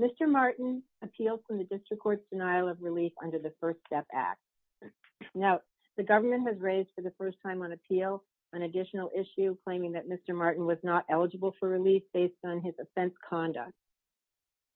Mr. Martin appealed from the District Court's denial of relief under the First Step Act. The government has raised for the first time on appeal an additional issue claiming that Mr. Martin was not eligible for relief based on his offense conduct,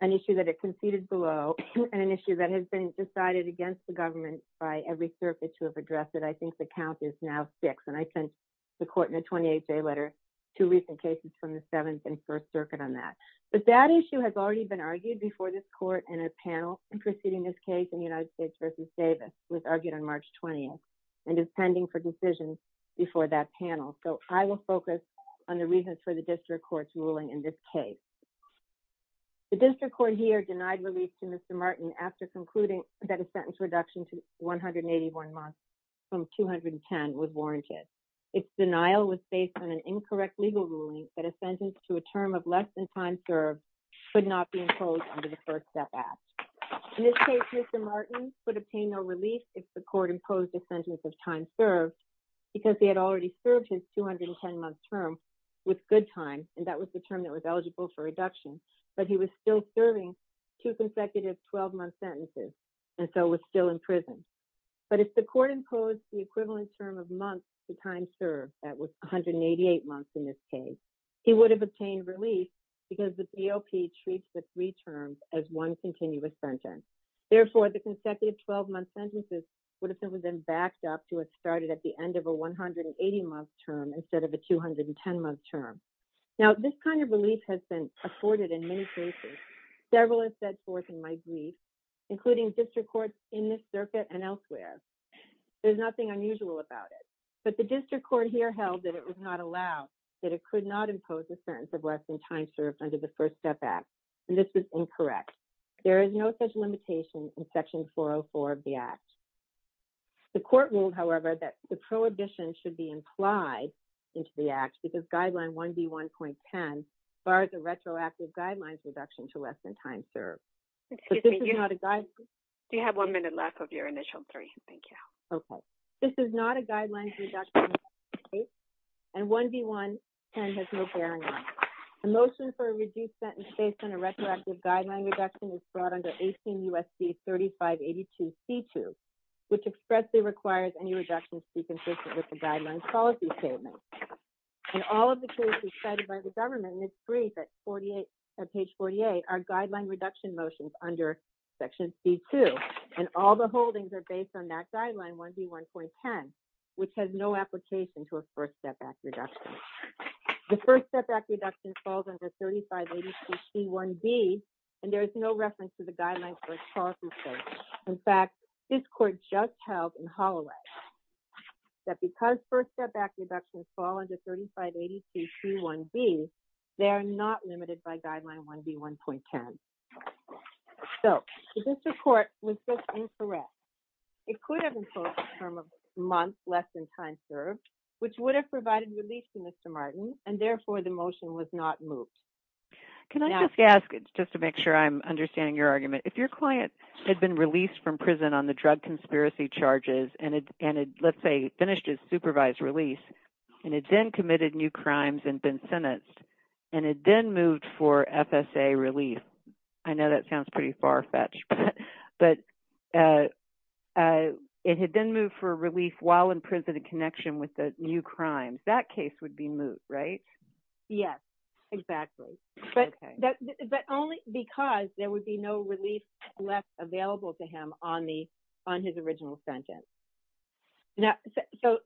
an issue that it conceded below and an issue that has been decided against the government by every circuit to have addressed it. I think the count is now six, and I sent the court in a 28-day letter two recent cases from the Seventh and First Circuit on that. But that issue has already been argued before this court in a panel preceding this case in the United States v. Davis, which was argued on March 20th and is pending for decision before that panel. So I will focus on the reasons for the District Court's ruling in this case. The District Court here denied relief to Mr. Martin after concluding that a sentence reduction to 181 months from 210 was warranted. Its denial was based on an incorrect legal ruling that a sentence to a term of less than time served could not be imposed under the First Step Act. In this case, Mr. Martin could obtain no relief if the court imposed a sentence of time served because he had already served his 210-month term with good time, and that was the term that was eligible for reduction, but he was still serving two consecutive 12-month sentences and so was still in prison. But if the court imposed the equivalent term of months to time served, that was 188 months in this case, he would have obtained relief because the DOP treats the three terms as one continuous sentence. Therefore, the consecutive 12-month sentences would have been backed up to what started at the end of a 180-month term instead of a 210-month term. Now, this kind of relief has been afforded in many cases. Several have set forth in my brief, including District Courts in this circuit and elsewhere. There's nothing unusual about it, but the District Court here held that it was not allowed, that it could not impose a sentence of less than time served under the First Step Act, and this is incorrect. There is no such limitation in Section 404 of the Act. The court ruled, however, that the prohibition should be implied into the Act because Guideline 1B1.10 bars a retroactive guidelines reduction to less than time served. But this is not a guideline. Do you have one minute left of your initial three? Thank you. Okay. This is not a guidelines reduction in this case, and 1B1.10 has no bearing on it. A motion for a reduced sentence based on a retroactive guideline reduction is brought under 18 U.S.C. 3582C2, which expressly requires any reduction to be consistent with the Guidelines Policy Statement. And all of the cases cited by the government in this brief at page 48 are guideline reduction motions under Section C2, and all the holdings are based on that Guideline 1B1.10, which has no application to a First Step Act reduction. The First Step Act reduction falls under 3582C1B, and there is no reference to the Guidelines Policy Statement. In fact, this court just held in Holloway that because First Step Act reductions fall under 3582C1B, they are not limited by Guideline 1B1.10. So, this report was just incorrect. It could have imposed a term of months less than time served, which would have provided relief to Mr. Martin, and therefore the motion was not moved. Can I just ask, just to make sure I'm understanding your argument, if your client had been released from prison on the drug conspiracy charges, and had, let's say, finished his supervised release, and had then committed new crimes and been sentenced, and had then moved for FSA relief, I know that sounds pretty far-fetched, but it had then moved for relief while in prison in connection with the new crimes, that case would be moved, right? Yes, exactly. Okay. But only because there would be no relief left available to him on his original sentence. Now, so,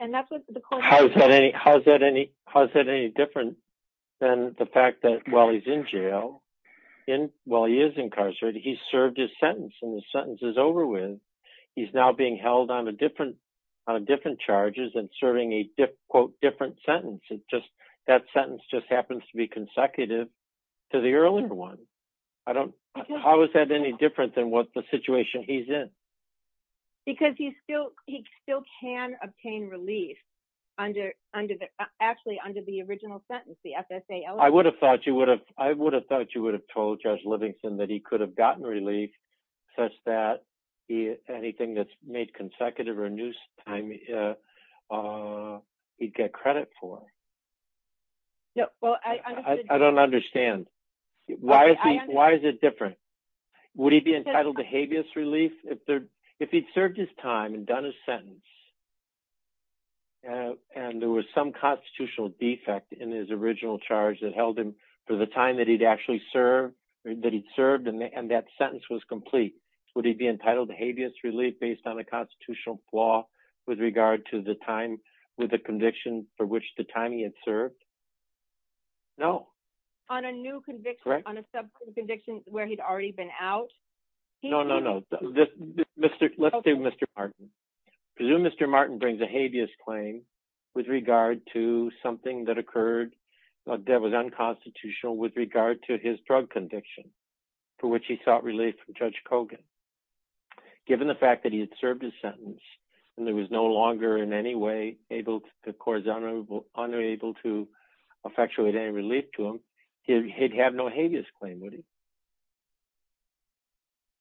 and that's what the court- How is that any different than the fact that while he's in jail, while he is incarcerated, he served his sentence, and the sentence is over with. He's now being held on a different charges and serving a, quote, different sentence. It's just, that sentence just happens to be consecutive to the earlier one. I don't, how is that any different than what the situation he's in? Because he still, he still can obtain relief under the, actually under the original sentence, the FSA- I would have thought you would have, I would have thought you would have told Judge Livingston that he could have gotten relief such that anything that's made consecutive or a new he'd get credit for. No, well, I- I don't understand. Why is he, why is it different? Would he be entitled to habeas relief? If he'd served his time and done his sentence, and there was some constitutional defect in his original charge that held him for the time that he'd actually served, that he'd served, and that sentence was complete, would he be entitled to habeas relief based on a new conviction with regard to the time, with the conviction for which the time he had served? No. On a new conviction, on a subsequent conviction where he'd already been out? No, no, no. Let's do Mr. Martin. Presume Mr. Martin brings a habeas claim with regard to something that occurred that was unconstitutional with regard to his drug conviction for which he sought relief from Judge Kogan. Given the fact that he had served his sentence and there was no longer in any way able to cause unable to effectuate any relief to him, he'd have no habeas claim, would he?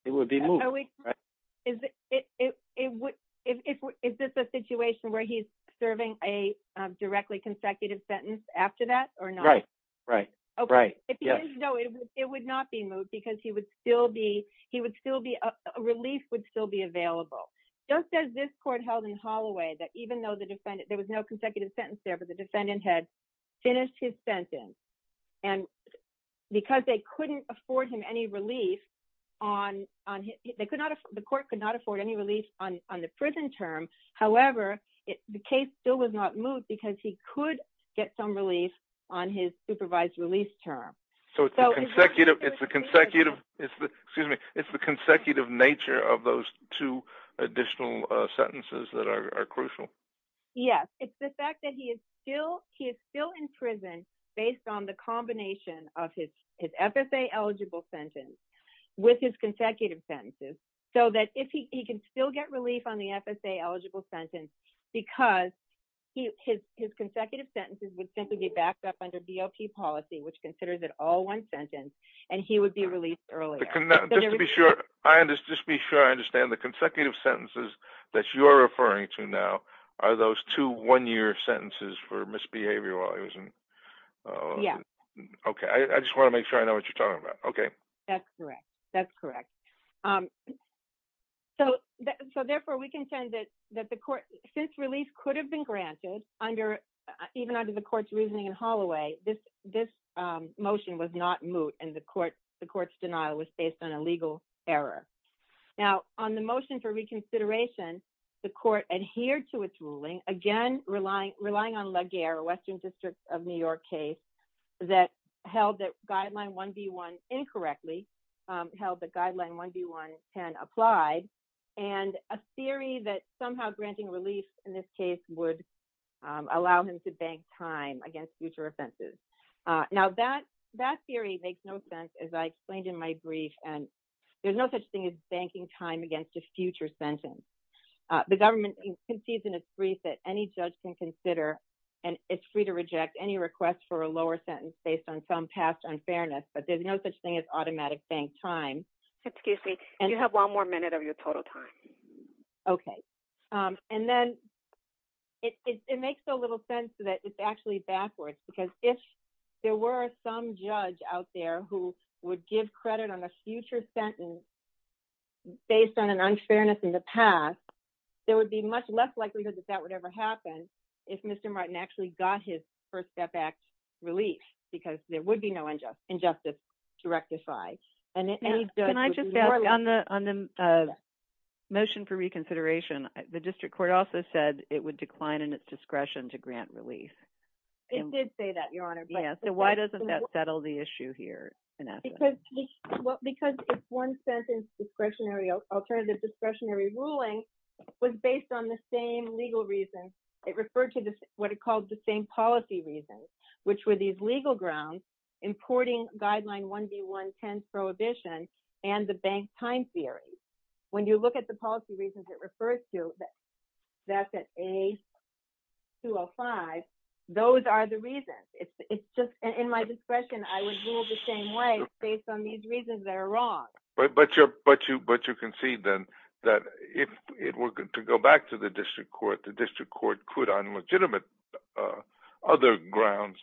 It would be moved, right? Is this a situation where he's serving a directly consecutive sentence after that or not? Right, right, right, yes. No, it would not be moved because he would still be, he would still be, relief would still be available. Just as this court held in Holloway that even though the defendant, there was no consecutive sentence there, but the defendant had finished his sentence and because they couldn't afford him any relief on, they could not, the court could not afford any relief on the prison term. However, the case still was not moved because he could get some relief on his supervised release term. So it's the consecutive, it's the consecutive, excuse me, it's the consecutive nature of those two additional sentences that are crucial? Yes, it's the fact that he is still, he is still in prison based on the combination of his FSA eligible sentence with his consecutive sentences so that if he can still get relief on the FSA eligible sentence because his consecutive sentences would simply be backed up under the DOP policy which considers it all one sentence and he would be released earlier. Just to be sure, just to be sure I understand, the consecutive sentences that you're referring to now are those two one-year sentences for misbehavior while he was in? Yes. Okay, I just want to make sure I know what you're talking about. Okay. That's correct, that's correct. So therefore we contend that the court, since relief could have been granted under, even this motion was not moot and the court's denial was based on a legal error. Now, on the motion for reconsideration, the court adhered to its ruling, again relying on Legere, a Western District of New York case that held that guideline 1B1 incorrectly, held that guideline 1B1 10 applied and a theory that somehow granting relief in this case would allow him to bank time against future offenses. Now, that theory makes no sense as I explained in my brief and there's no such thing as banking time against a future sentence. The government concedes in its brief that any judge can consider and it's free to reject any request for a lower sentence based on some past unfairness, but there's no such thing as automatic bank time. Excuse me, you have one more minute of your total time. Okay. And then it makes so little sense that it's actually backwards because if there were some judge out there who would give credit on a future sentence based on an unfairness in the past, there would be much less likelihood that that would ever happen if Mr. Martin actually got his First Step Act relief because there would be no injustice to rectify. Can I just ask, on the motion for reconsideration, the district court also said it would decline in its discretion to grant relief. It did say that, Your Honor. Yeah, so why doesn't that settle the issue here in essence? Because if one sentence discretionary, alternative discretionary ruling was based on the same legal reason, it referred to what it called the same policy reasons, which were these prohibition and the bank time series. When you look at the policy reasons it refers to, that's at A205, those are the reasons. It's just in my discretion, I would rule the same way based on these reasons that are wrong. But you concede then that if it were to go back to the district court, the district court could on legitimate other grounds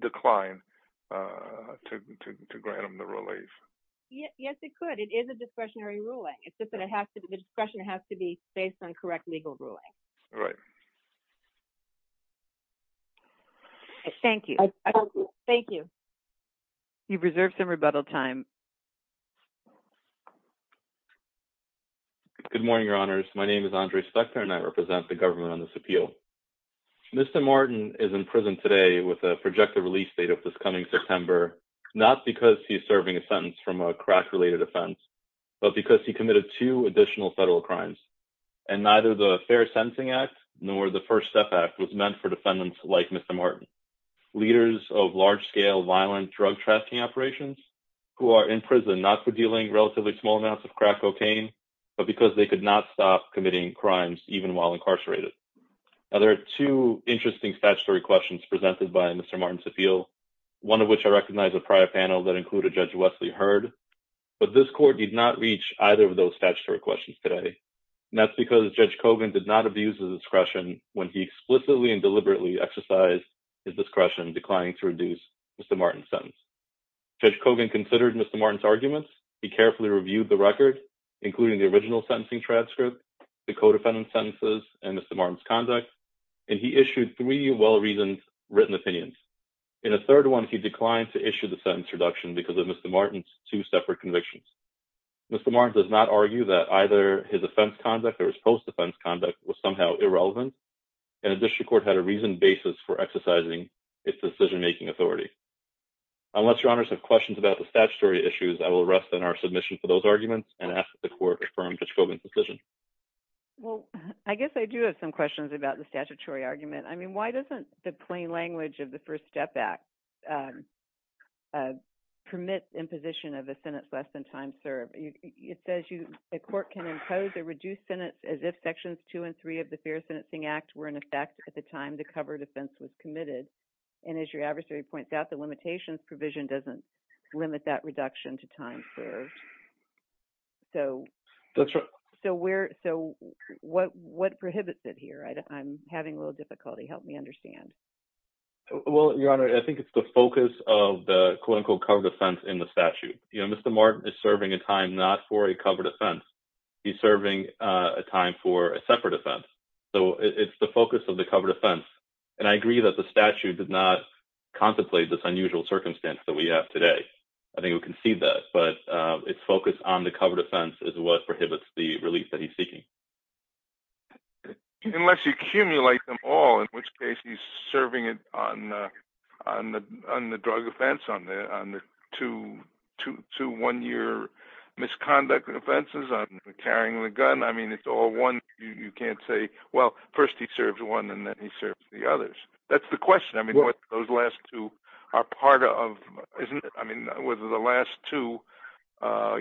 decline to grant him the relief. Yes, it could. It is a discretionary ruling. It's just that the discretion has to be based on correct legal ruling. Right. Thank you. Thank you. You've reserved some rebuttal time. Good morning, Your Honors. My name is Andre Spector and I represent the government on this appeal. Mr. Martin is in prison today with a projected release date of this coming September, not because he's serving a sentence from a crack-related offense, but because he committed two additional federal crimes. And neither the Fair Sentencing Act nor the First Step Act was meant for defendants like Mr. Martin. Leaders of large-scale violent drug trafficking operations who are in prison not for dealing relatively small amounts of crack cocaine, but because they could not stop committing crimes even while incarcerated. Now, there are two interesting statutory questions presented by Mr. Martin's appeal, one of which I recognize a prior panel that included Judge Wesley Hurd, but this court did not reach either of those statutory questions today. And that's because Judge Kogan did not abuse his discretion when he explicitly and deliberately exercised his discretion declining to reduce Mr. Martin's sentence. Judge Kogan considered Mr. Martin's arguments. He carefully reviewed the record, including the original sentencing transcript, the co-defendant sentences, and Mr. Martin's conduct, and he issued three well-reasoned written opinions. In a third one, he declined to issue the sentence reduction because of Mr. Martin's two separate convictions. Mr. Martin does not argue that either his offense conduct or his post-offense conduct was somehow irrelevant, and the district court had a reasoned basis for exercising its decision-making authority. Unless Your Honors have questions about the statutory issues, I will rest on our submission for those arguments and ask that the court confirm Judge Kogan's decision. Well, I guess I do have some questions about the statutory argument. I mean, why doesn't the plain language of the First Step Act permit imposition of a sentence less than time served? It says the court can impose a reduced sentence as if Sections 2 and 3 of the Fair Sentencing Act were in effect at the time the covered offense was committed. And as your adversary points out, the limitations provision doesn't limit that reduction to time served. So what prohibits it here? I'm having a little difficulty. Help me understand. Well, Your Honor, I think it's the focus of the quote-unquote covered offense in the statute. Mr. Martin is serving a time not for a covered offense. He's serving a time for a separate offense. So it's the focus of the covered offense. And I agree that the statute did not contemplate this unusual circumstance that we have today. I think we can see that. But it's focused on the covered offense is what prohibits the release that he's seeking. Unless you accumulate them all, in which case he's serving it on the drug offense, on the two one-year misconduct offenses, on carrying the gun. I mean, it's all one. You can't say, well, first he serves one and then he serves the others. That's the question. I mean, what those last two are part of, isn't it? I mean, whether the last two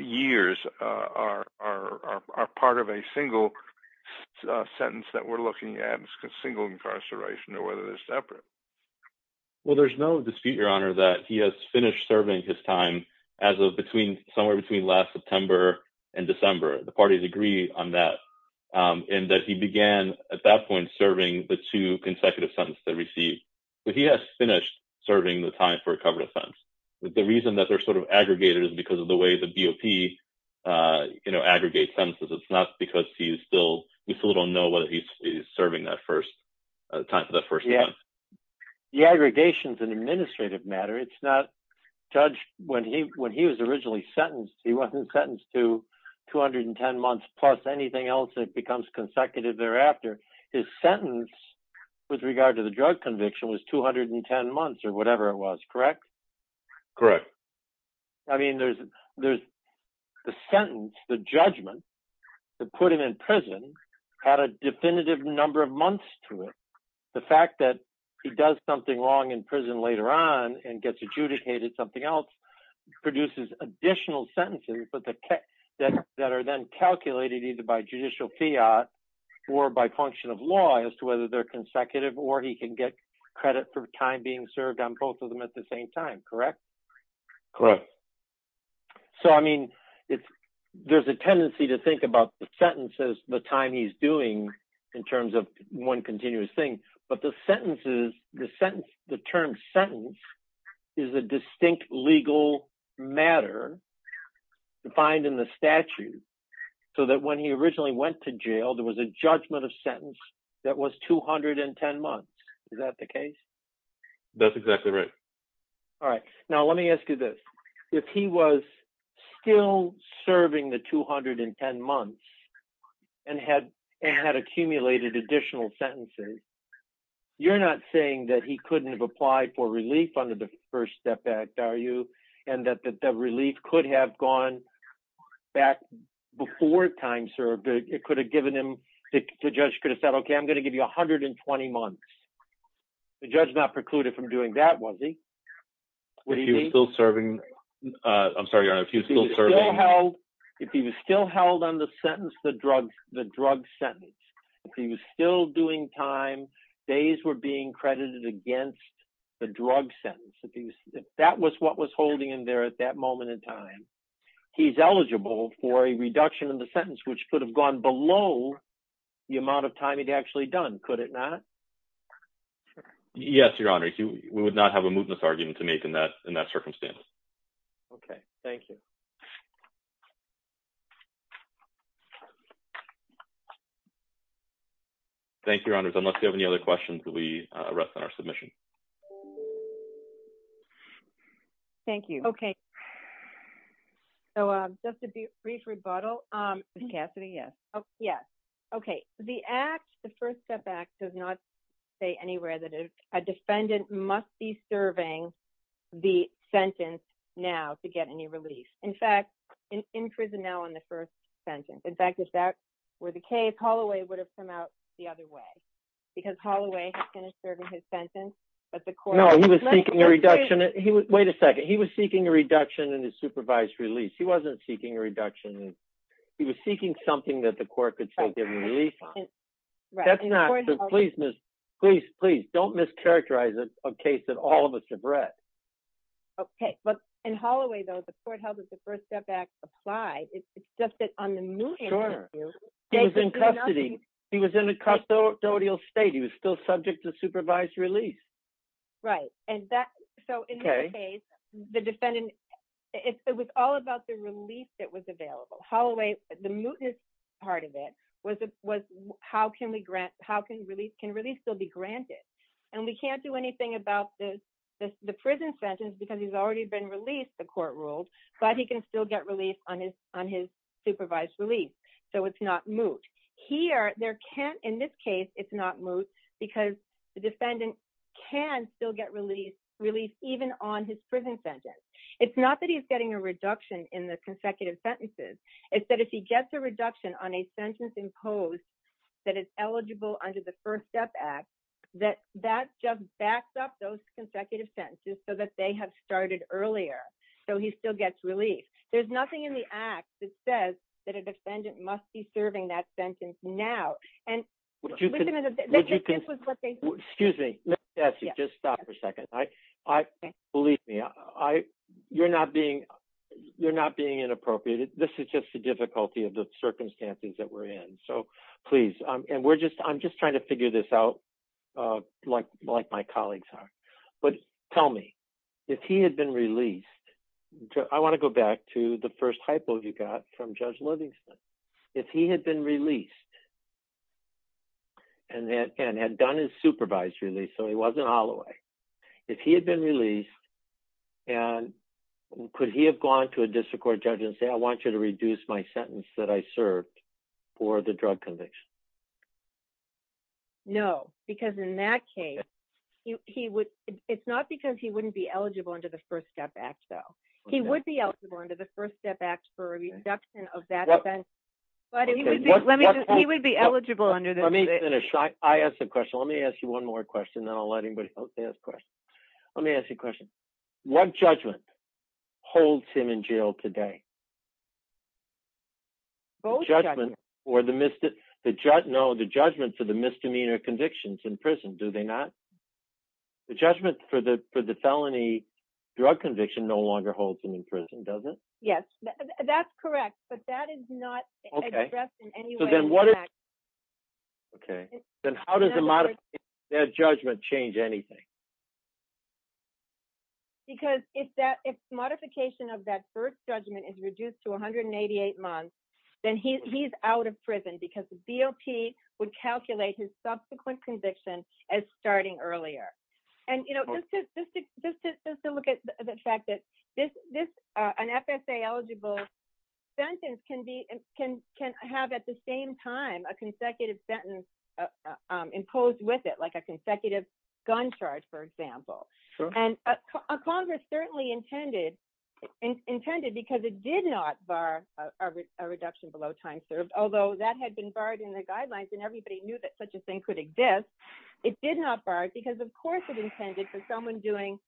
years are part of a single sentence that we're looking at single incarceration or whether they're separate. Well, there's no dispute, Your Honor, that he has finished serving his time as of between somewhere between last September and December. The parties agree on that. And that he began at that point serving the two consecutive sentences that he received. But he has finished serving the time for a covered offense. The reason that they're sort of aggregated is because of the way the BOP aggregates sentences. It's not because we still don't know whether he's serving that first time. The aggregation is an administrative matter. Judge, when he was originally sentenced, he wasn't sentenced to 210 months plus anything else that becomes consecutive thereafter. His sentence with regard to the drug conviction was 210 months or whatever it was. Correct? Correct. I mean, there's the sentence, the judgment that put him in prison had a definitive number of months to it. The fact that he does something wrong in prison later on and gets adjudicated something else produces additional sentences that are then calculated either by judicial fiat or by function of law as to whether they're consecutive or he can get credit for time being served on both of them at the same time. Correct? Correct. So, I mean, there's a tendency to think about the sentences, the time he's doing in terms of one continuous thing, but the sentences, the sentence, the term sentence is a distinct legal matter defined in the statute so that when he originally went to jail, there was a judgment of sentence that was 210 months. Is that the case? That's exactly right. All right. Now, let me ask you this. If he was still serving the 210 months and had accumulated additional sentences, you're not saying that he couldn't have applied for relief under the First Step Act, are you? And that the relief could have gone back before time served. It could have given him, the judge could have said, okay, I'm going to give you 120 months. The judge not precluded from doing that, was he? What do you mean? If he was still serving... I'm sorry, Your Honor, if he was still serving... If he was still held on the sentence, the drug sentence, if he was still doing time, days were being credited against the drug sentence, if that was what was holding him there at that moment in time, he's eligible for a reduction in the sentence, which could have gone below the amount of time he'd actually done, could it not? Yes, Your Honor. Thank you. We would not have a mootness argument to make in that circumstance. Okay. Thank you. Thank you, Your Honors. Unless you have any other questions, we rest on our submission. Thank you. Okay. So just a brief rebuttal. Ms. Cassidy, yes. Yes. Okay. The Act, the First Step Act, does not say anywhere that a defendant must be serving the sentence now to get any release. In fact, in prison now on the first sentence. In fact, if that were the case, Holloway would have come out the other way. Because Holloway had finished serving his sentence, but the court... No, he was seeking a reduction. Wait a second. He was seeking a reduction in his supervised release. He wasn't seeking a reduction. He was seeking something that the court could say give him release on. Right. That's not... Please, please, don't mischaracterize a case that all of us have read. Okay. But in Holloway, though, the court held that the First Step Act applied. It's just that on the mootness issue... Sure. He was in custody. He was in a custodial state. He was still subject to supervised release. Right. And that... Okay. In this case, the defendant... It was all about the release that was available. Holloway... The mootness part of it was how can we grant... How can release... Can release still be granted? And we can't do anything about the prison sentence because he's already been released, the court ruled, but he can still get release on his supervised release. So it's not moot. Here, there can't... In this case, it's not moot because the defendant can still get release, release even on his prison sentence. It's not that he's getting a reduction in the consecutive sentences. It's that if he gets a reduction on a sentence imposed that is eligible under the First Step Act, that that just backs up those consecutive sentences so that they have started earlier, so he still gets relief. There's nothing in the act that says that a defendant must be serving that sentence now. And this was what they... Excuse me. Just stop for a second. Believe me. You're not being inappropriate. This is just the difficulty of the circumstances that we're in. So please. And we're just... I'm just trying to figure this out like my colleagues are. But tell me, if he had been released... I want to go back to the first hypo you got from Judge Livingston. If he had been released and had done his supervised release, so he wasn't Holloway, if he had been released, could he have gone to a district court judge and said, I want you to reduce my sentence that I served for the drug conviction? No, because in that case, it's not because he wouldn't be eligible under the First Step Act, though. He would be eligible under the First Step Act for a reduction of that offense. But he would be eligible under the... Let me finish. I asked a question. Let me ask you one more question, then I'll let anybody else ask questions. Let me ask you a question. What judgment holds him in jail today? Both. The judgment for the misdemeanor convictions in prison, do they not? The judgment for the felony drug conviction no longer holds him in prison, does it? Yes, that's correct. But that is not addressed in any way in the act. Okay. Then how does the modification of that judgment change anything? Because if modification of that first judgment is reduced to 188 months, then he's out of prison because the DOP would calculate his subsequent conviction as starting earlier. Just to look at the fact that an FSA-eligible sentence can have at the same time a consecutive sentence imposed with it, like a consecutive gun charge, for example. And Congress certainly intended, because it did not bar a reduction below time served, although that had been barred in the guidelines and everybody knew that such a thing could exist, it did not bar it because, of course, it intended for someone doing,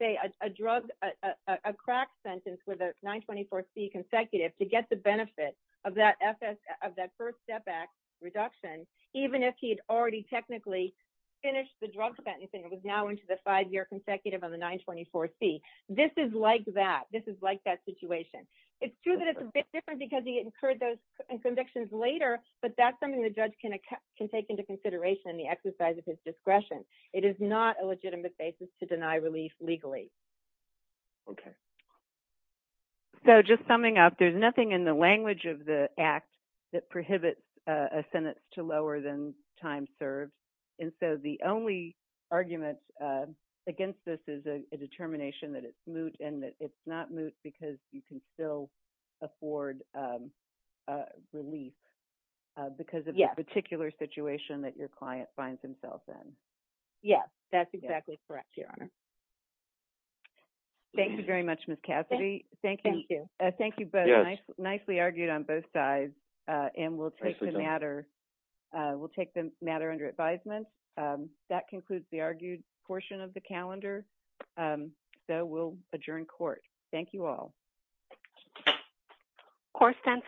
say, a drug, a crack sentence with a 924C consecutive to get the benefit of that first step act reduction, even if he had already technically finished the drug sentence and was now into the five-year consecutive on the 924C. This is like that. This is like that situation. It's true that it's a bit different because he incurred those convictions later, but that's something the judge can take into consideration in the exercise of his discretion. It is not a legitimate basis to deny relief legally. Okay. So just summing up, there's nothing in the language of the Act that prohibits a sentence to lower than time served, and so the only argument against this is a determination that it's moot and that it's not moot because you can still afford relief because of the particular situation that your client finds himself in. Yes, that's exactly correct, Your Honor. Thank you very much, Ms. Cassidy. Thank you. Thank you both. Nicely argued on both sides, and we'll take the matter under advisement. That concludes the argued portion of the calendar, so we'll adjourn court. Thank you all. Court stands adjourned.